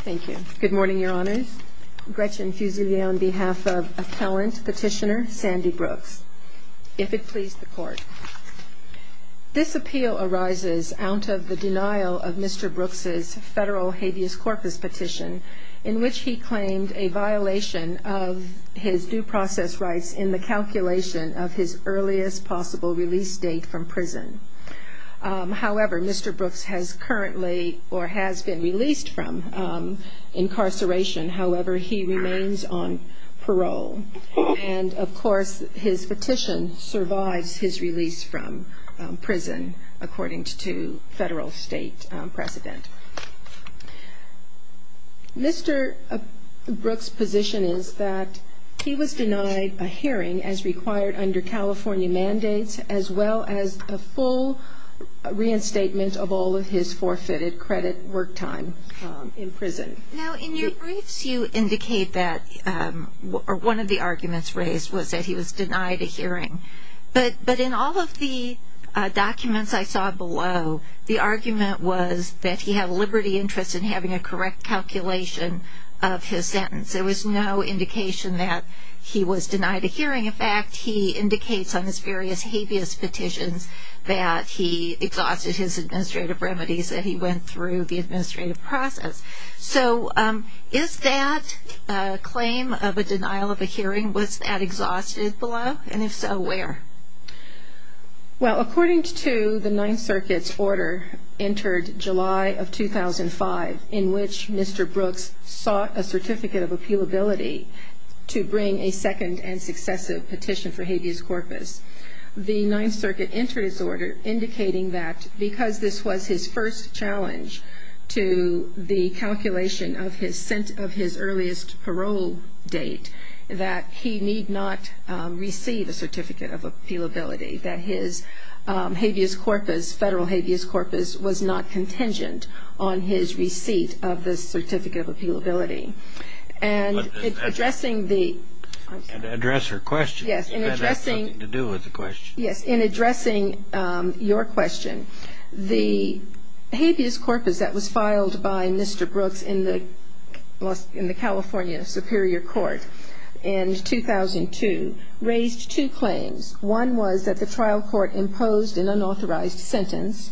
Thank you. Good morning, Your Honors. Gretchen Fusilier on behalf of Appellant Petitioner Sandy Brooks. If it please the Court. This appeal arises out of the denial of Mr. Brooks' federal habeas corpus petition in which he claimed a violation of his due process rights in the calculation of his earliest possible release date from prison. However, Mr. Brooks has currently or has been released from incarceration. However, he remains on parole. And, of course, his petition survives his release from prison, according to federal state precedent. Mr. Brooks' position is that he was denied a hearing as required under California mandates, as well as a full reinstatement of all of his forfeited credit work time in prison. Now, in your briefs, you indicate that one of the arguments raised was that he was denied a hearing. But in all of the documents I saw below, the argument was that he had a liberty interest in having a correct calculation of his sentence. There was no indication that he was denied a hearing. In fact, he indicates on his various habeas petitions that he exhausted his administrative remedies, that he went through the administrative process. So, is that a claim of a denial of a hearing? Was that exhausted below? And, if so, where? Well, according to the Ninth Circuit's order entered July of 2005, in which Mr. Brooks sought a certificate of appealability to bring a second and successive petition for habeas corpus, the Ninth Circuit entered its order indicating that because this was his first challenge to the his habeas corpus, federal habeas corpus, was not contingent on his receipt of the certificate of appealability. And addressing the And address her question. Yes. If that has something to do with the question. Yes. In addressing your question, the habeas corpus that was filed by Mr. Brooks in the California Superior Court in 2002 raised two claims. One was that the trial court imposed an unauthorized sentence.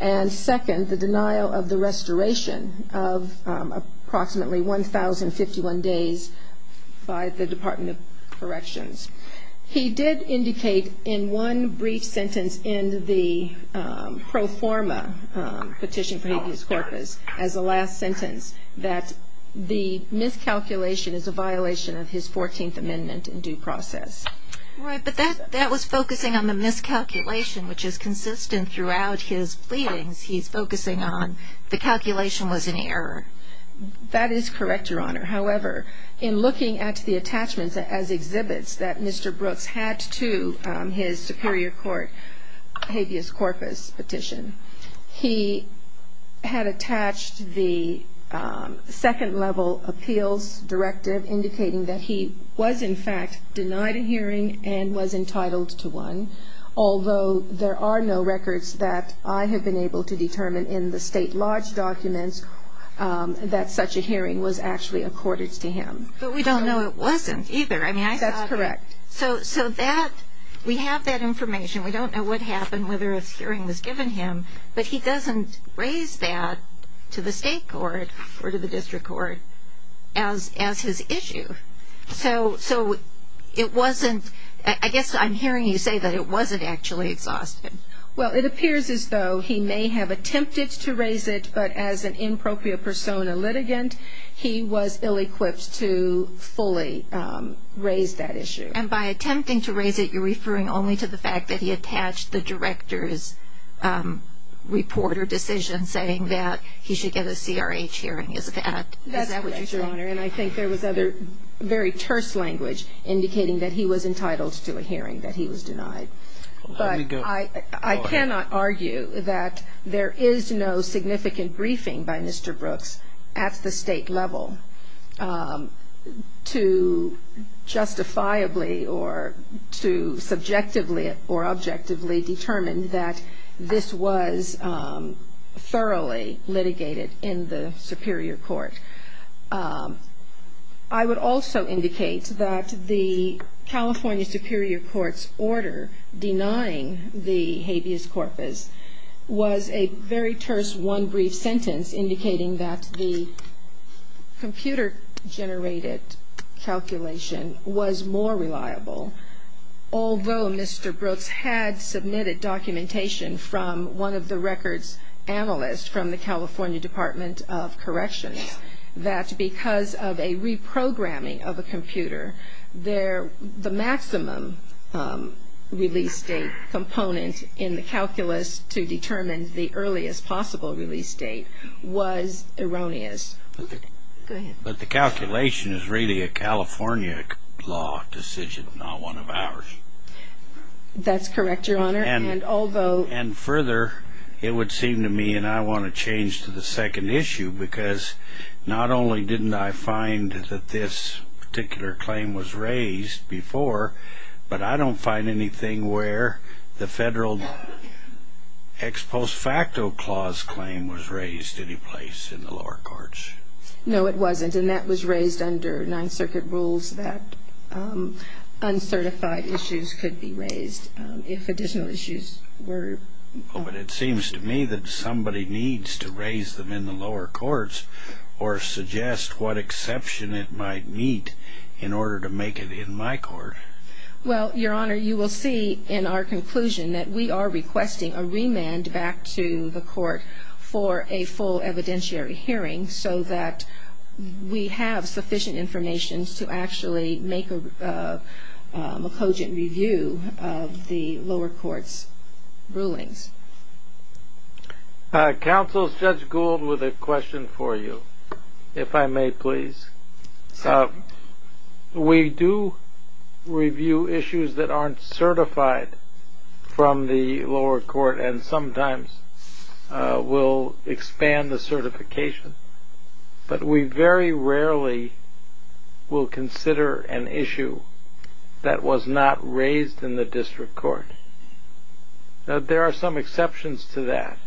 And second, the denial of the restoration of approximately 1,051 days by the Department of Corrections. He did indicate in one brief sentence in the pro forma petition for habeas corpus as a last sentence that the miscalculation is a violation of his 14th Amendment in due process. Right. But that was focusing on the miscalculation, which is consistent throughout his pleadings. He's focusing on the calculation was an error. That is correct, Your Honor. However, in looking at the attachments as exhibits that Mr. Brooks had to his Superior Court habeas corpus petition, he had attached the second-level appeals directive indicating that he was, in fact, denied a hearing and was entitled to one. Although there are no records that I have been able to determine in the State Lodge documents that such a hearing was actually accorded to him. But we don't know it wasn't, either. I mean, I saw it. That's correct. So that, we have that information. We don't know what happened, whether a hearing was given to him. But he doesn't raise that to the State Court or to the District Court as his issue. So it wasn't, I guess I'm hearing you say that it wasn't actually exhausted. Well, it appears as though he may have attempted to raise it, but as an in propia persona litigant, he was ill-equipped to fully raise that issue. And by attempting to raise it, you're referring only to the fact that he attached the director's report or decision saying that he should get a CRH hearing. Is that correct? That's correct, Your Honor. And I think there was other very terse language indicating that he was entitled to a hearing, that he was denied. Let me go ahead. I cannot argue that there is no significant briefing by Mr. Brooks at the State level to justifiably or to subjectively or objectively determine that this was thoroughly litigated in the Superior Court. I would also indicate that the California Superior Court's order denying the habeas corpus was a very terse one brief sentence indicating that the computer-generated calculation was more reliable, although Mr. Brooks had submitted documentation from one of the records analysts from the California Department of Corrections that because of a reprogramming of a computer, the maximum release date component in the calculus to determine the earliest possible release date was erroneous. Go ahead. But the calculation is really a California law decision, not one of ours. That's correct, Your Honor. And although it would seem to me, and I want to change to the second issue, because not only didn't I find that this particular claim was raised before, but I don't find anything where the federal ex post facto clause claim was raised any place in the lower courts. No, it wasn't. And that was raised under Ninth Circuit rules that uncertified issues could be raised if additional issues were. But it seems to me that somebody needs to raise them in the lower courts or suggest what exception it might meet in order to make it in my court. Well, Your Honor, you will see in our conclusion that we are requesting a remand back to the court for a full evidentiary hearing so that we have sufficient information to actually make a cogent review of the lower courts' rulings. Counsel, Judge Gould with a question for you, if I may, please. We do review issues that aren't certified from the lower court and sometimes will expand the certification. But we very rarely will consider an issue that was not raised in the district court. There are some exceptions to that,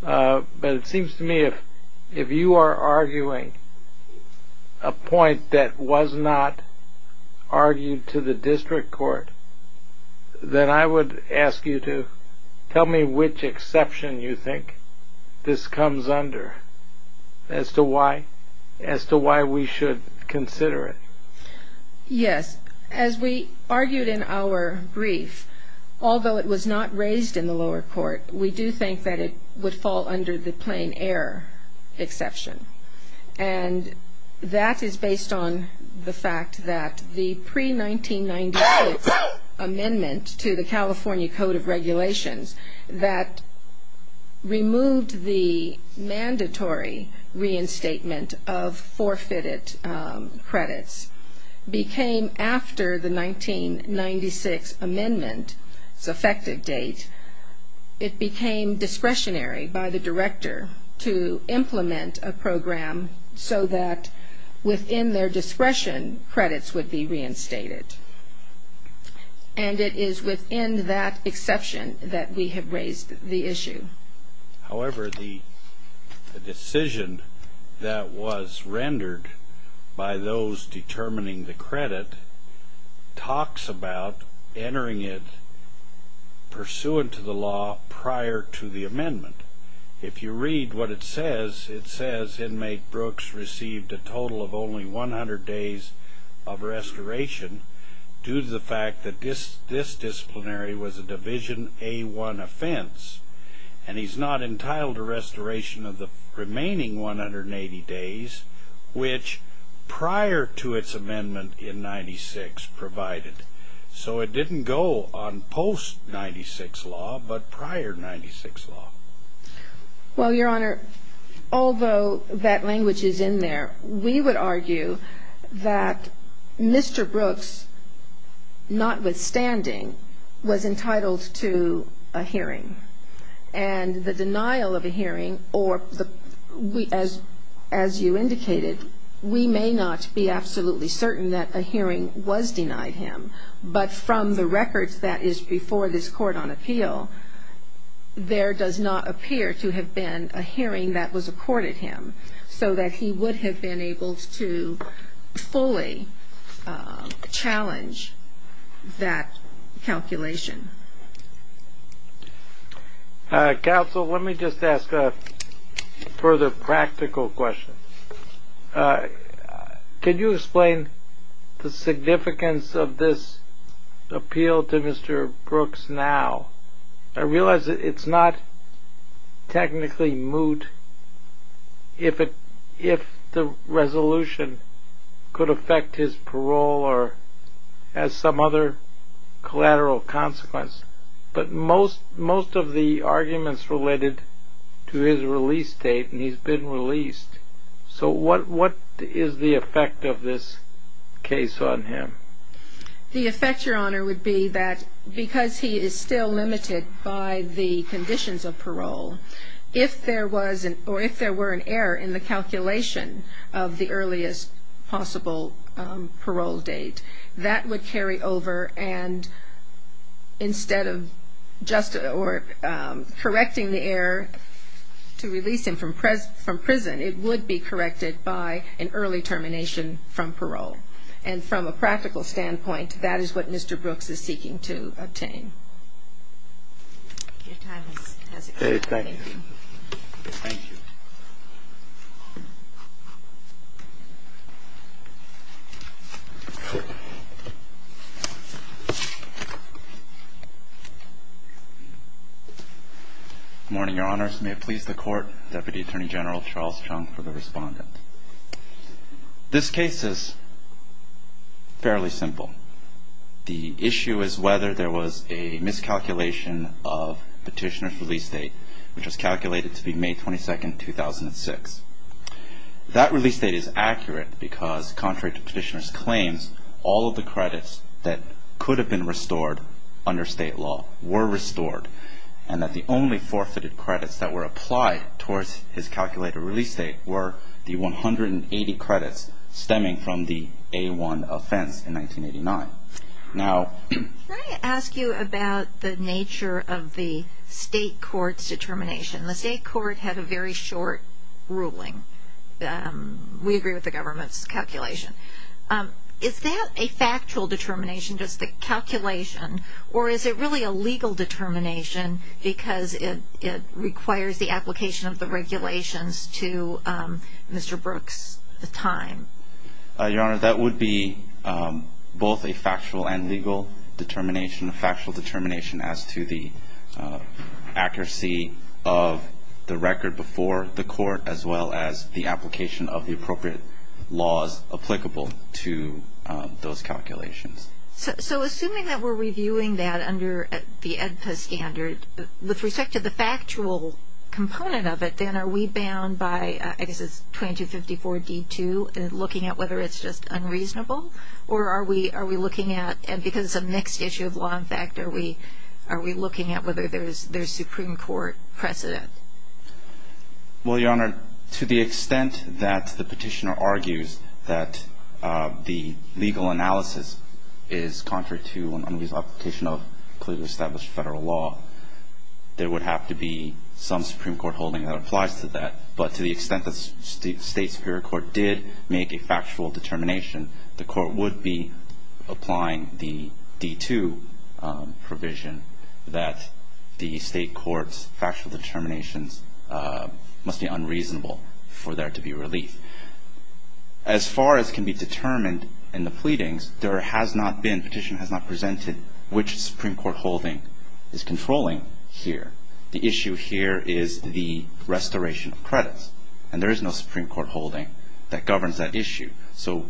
but it seems to me if you are arguing a point that was not argued to the district court, then I would ask you to tell me which exception you think this comes under as to why we should consider it. Yes. As we argued in our brief, although it was not raised in the lower court, we do think that it would fall under the plain error exception. And that is based on the fact that the pre-1998 amendment to the California Code of Regulations that removed the mandatory reinstatement of credits became, after the 1996 amendment's effective date, it became discretionary by the director to implement a program so that within their discretion, credits would be reinstated. And it is within that exception that we have raised the issue. However, the decision that was rendered by those determining the credit talks about entering it pursuant to the law prior to the amendment. If you read what it says, it says inmate Brooks received a total of only 100 days of restoration due to the fact that this disciplinary was a Division A-1 offense. And he's not entitled to restoration of the remaining 180 days, which prior to its amendment in 1996 provided. So it didn't go on post-1996 law, but prior to 1996 law. Well, Your Honor, although that language is in there, we would argue that Mr. Brooks, notwithstanding, was entitled to a hearing. And the denial of a hearing or, as you indicated, we may not be absolutely certain that a hearing was denied him. But from the records that is before this Court on Appeal, there does not appear to have been a hearing that was accorded him so that he would have been able to fully challenge that calculation. Counsel, let me just ask a further practical question. Can you explain the significance of this appeal to Mr. Brooks now? I realize it's not technically moot if the resolution could affect his parole or has some other collateral consequence. But most of the arguments related to his release date, and he's been released. So what is the effect of this case on him? The effect, Your Honor, would be that because he is still limited by the conditions of parole, if there was or if there were an error in the calculation of the earliest possible parole date, that would carry over and instead of just or correcting the error to release him from prison, it would be corrected by an early termination from parole. And from a practical standpoint, that is what Mr. Brooks is seeking to obtain. Your time has expired. Thank you. Thank you. Good morning, Your Honors. May it please the Court. Deputy Attorney General Charles Chung for the Respondent. This case is fairly simple. The issue is whether there was a miscalculation of Petitioner's release date, which was calculated to be May 22, 2006. That release date is accurate because, contrary to Petitioner's claims, all of the credits that could have been restored under state law were restored. And that the only forfeited credits that were applied towards his calculated release date were the 180 credits stemming from the A-1 offense in 1989. Can I ask you about the nature of the state court's determination? The state court had a very short ruling. We agree with the government's calculation. Is that a factual determination, just the calculation, or is it really a legal determination because it requires the application of the regulations to Mr. Brooks' time? Your Honor, that would be both a factual and legal determination, a factual determination as to the accuracy of the record before the court, as well as the application of the appropriate laws applicable to those calculations. So assuming that we're reviewing that under the AEDPA standard, with respect to the factual component of it, then are we bound by, I guess it's 2254 D-2, looking at whether it's just unreasonable? Or are we looking at, because it's a mixed issue of law and fact, are we looking at whether there's Supreme Court precedent? Well, Your Honor, to the extent that the petitioner argues that the legal analysis is contrary to an unreasonable application of clearly established federal law, there would have to be some Supreme Court holding that applies to that. But to the extent that the state superior court did make a factual determination, the court would be applying the D-2 provision that the state court's factual determinations must be unreasonable for there to be relief. As far as can be determined in the pleadings, there has not been, the petitioner has not presented which Supreme Court holding is controlling here. The issue here is the restoration of credits. And there is no Supreme Court holding that governs that issue. So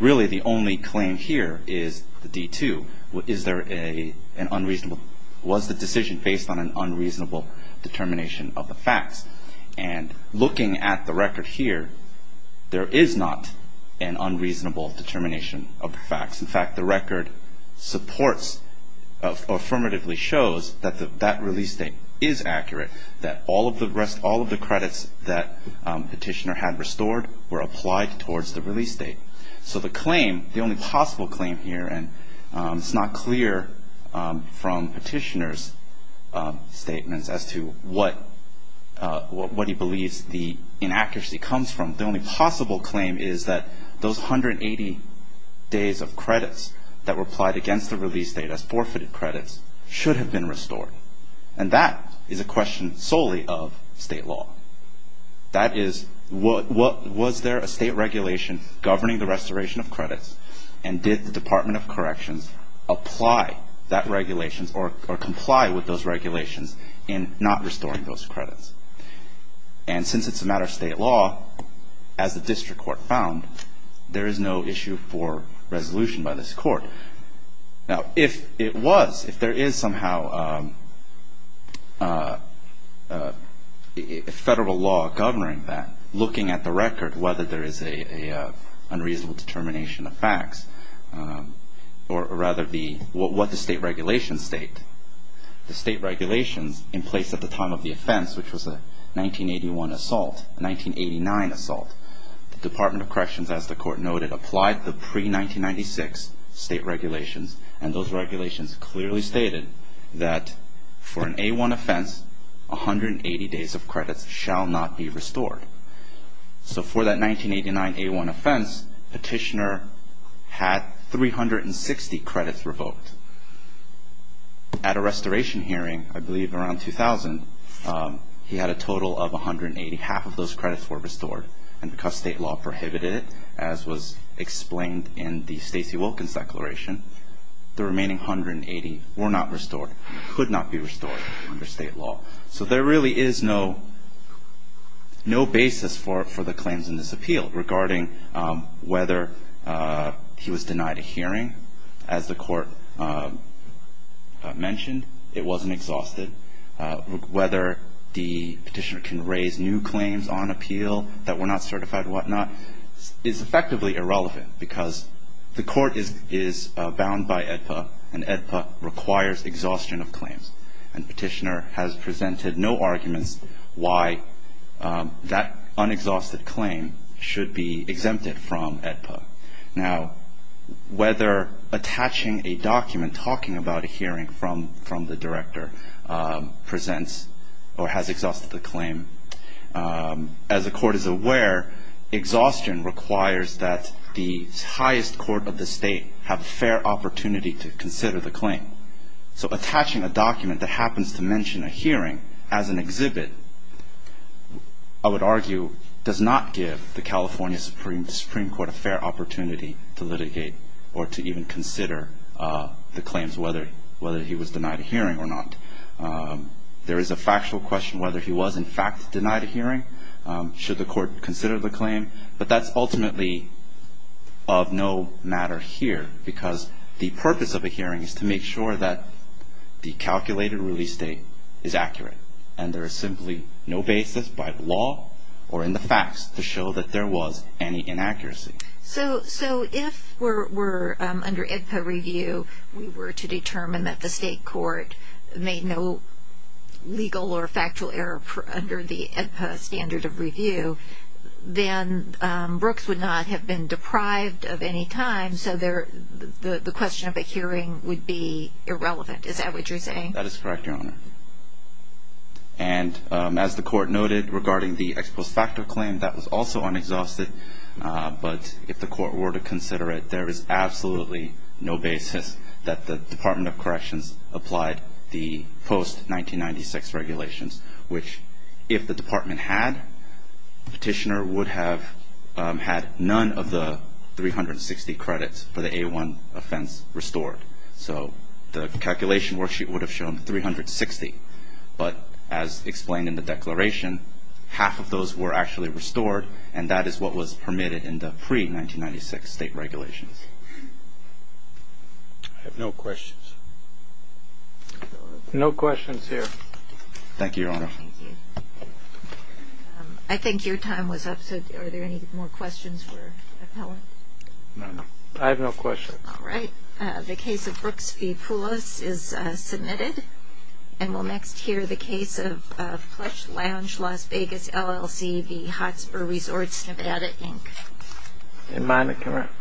really the only claim here is the D-2. Is there an unreasonable, was the decision based on an unreasonable determination of the facts? And looking at the record here, there is not an unreasonable determination of the facts. In fact, the record supports or affirmatively shows that that release date is accurate, that all of the credits that petitioner had restored were applied towards the release date. So the claim, the only possible claim here, and it's not clear from petitioner's statements as to what he believes the inaccuracy comes from. The only possible claim is that those 180 days of credits that were applied against the release date as forfeited credits should have been restored. And that is a question solely of state law. That is, was there a state regulation governing the restoration of credits? And did the Department of Corrections apply that regulation or comply with those regulations in not restoring those credits? And since it's a matter of state law, as the district court found, there is no issue for resolution by this court. Now, if it was, if there is somehow a federal law governing that, looking at the record, whether there is an unreasonable determination of facts, or rather what the state regulations state, the state regulations in place at the time of the offense, which was a 1981 assault, a 1989 assault, the Department of Corrections, as the court noted, applied the pre-1996 state regulations. And those regulations clearly stated that for an A-1 offense, 180 days of credits shall not be restored. So for that 1989 A-1 offense, petitioner had 360 credits revoked. At a restoration hearing, I believe around 2000, he had a total of 180. Half of those credits were restored. And because state law prohibited it, as was explained in the Stacey Wilkins declaration, the remaining 180 were not restored, could not be restored under state law. So there really is no basis for the claims in this appeal regarding whether he was denied a hearing. As the court mentioned, it wasn't exhausted. Whether the petitioner can raise new claims on appeal that were not certified or whatnot is effectively irrelevant, because the court is bound by AEDPA, and AEDPA requires exhaustion of claims. And petitioner has presented no arguments why that unexhausted claim should be exempted from AEDPA. Now, whether attaching a document talking about a hearing from the director presents or has exhausted the claim, as the court is aware, exhaustion requires that the highest court of the state have a fair opportunity to consider the claim. So attaching a document that happens to mention a hearing as an exhibit, I would argue, does not give the California Supreme Court a fair opportunity to litigate or to even consider the claims whether he was denied a hearing or not. There is a factual question whether he was in fact denied a hearing, should the court consider the claim. But that's ultimately of no matter here, because the purpose of a hearing is to make sure that the calculated release date is accurate. And there is simply no basis by law or in the facts to show that there was any inaccuracy. So if we're under AEDPA review, we were to determine that the state court made no legal or factual error under the AEDPA standard of review, then Brooks would not have been deprived of any time, so the question of a hearing would be irrelevant. Is that what you're saying? That is correct, Your Honor. And as the court noted regarding the ex post facto claim, that was also unexhausted. But if the court were to consider it, there is absolutely no basis that the Department of Corrections applied the post 1996 regulations, which if the department had, the petitioner would have had none of the 360 credits for the A1 offense restored. So the calculation worksheet would have shown 360. But as explained in the declaration, half of those were actually restored, and that is what was permitted in the pre-1996 state regulations. I have no questions. No questions here. Thank you, Your Honor. I think your time was up, so are there any more questions for the appellant? No, no. I have no questions. All right. The case of Brooks v. Poulos is submitted. And we'll next hear the case of Plush Lounge, Las Vegas, LLC v. Hotspur Resorts, Nevada, Inc. And mine are correct.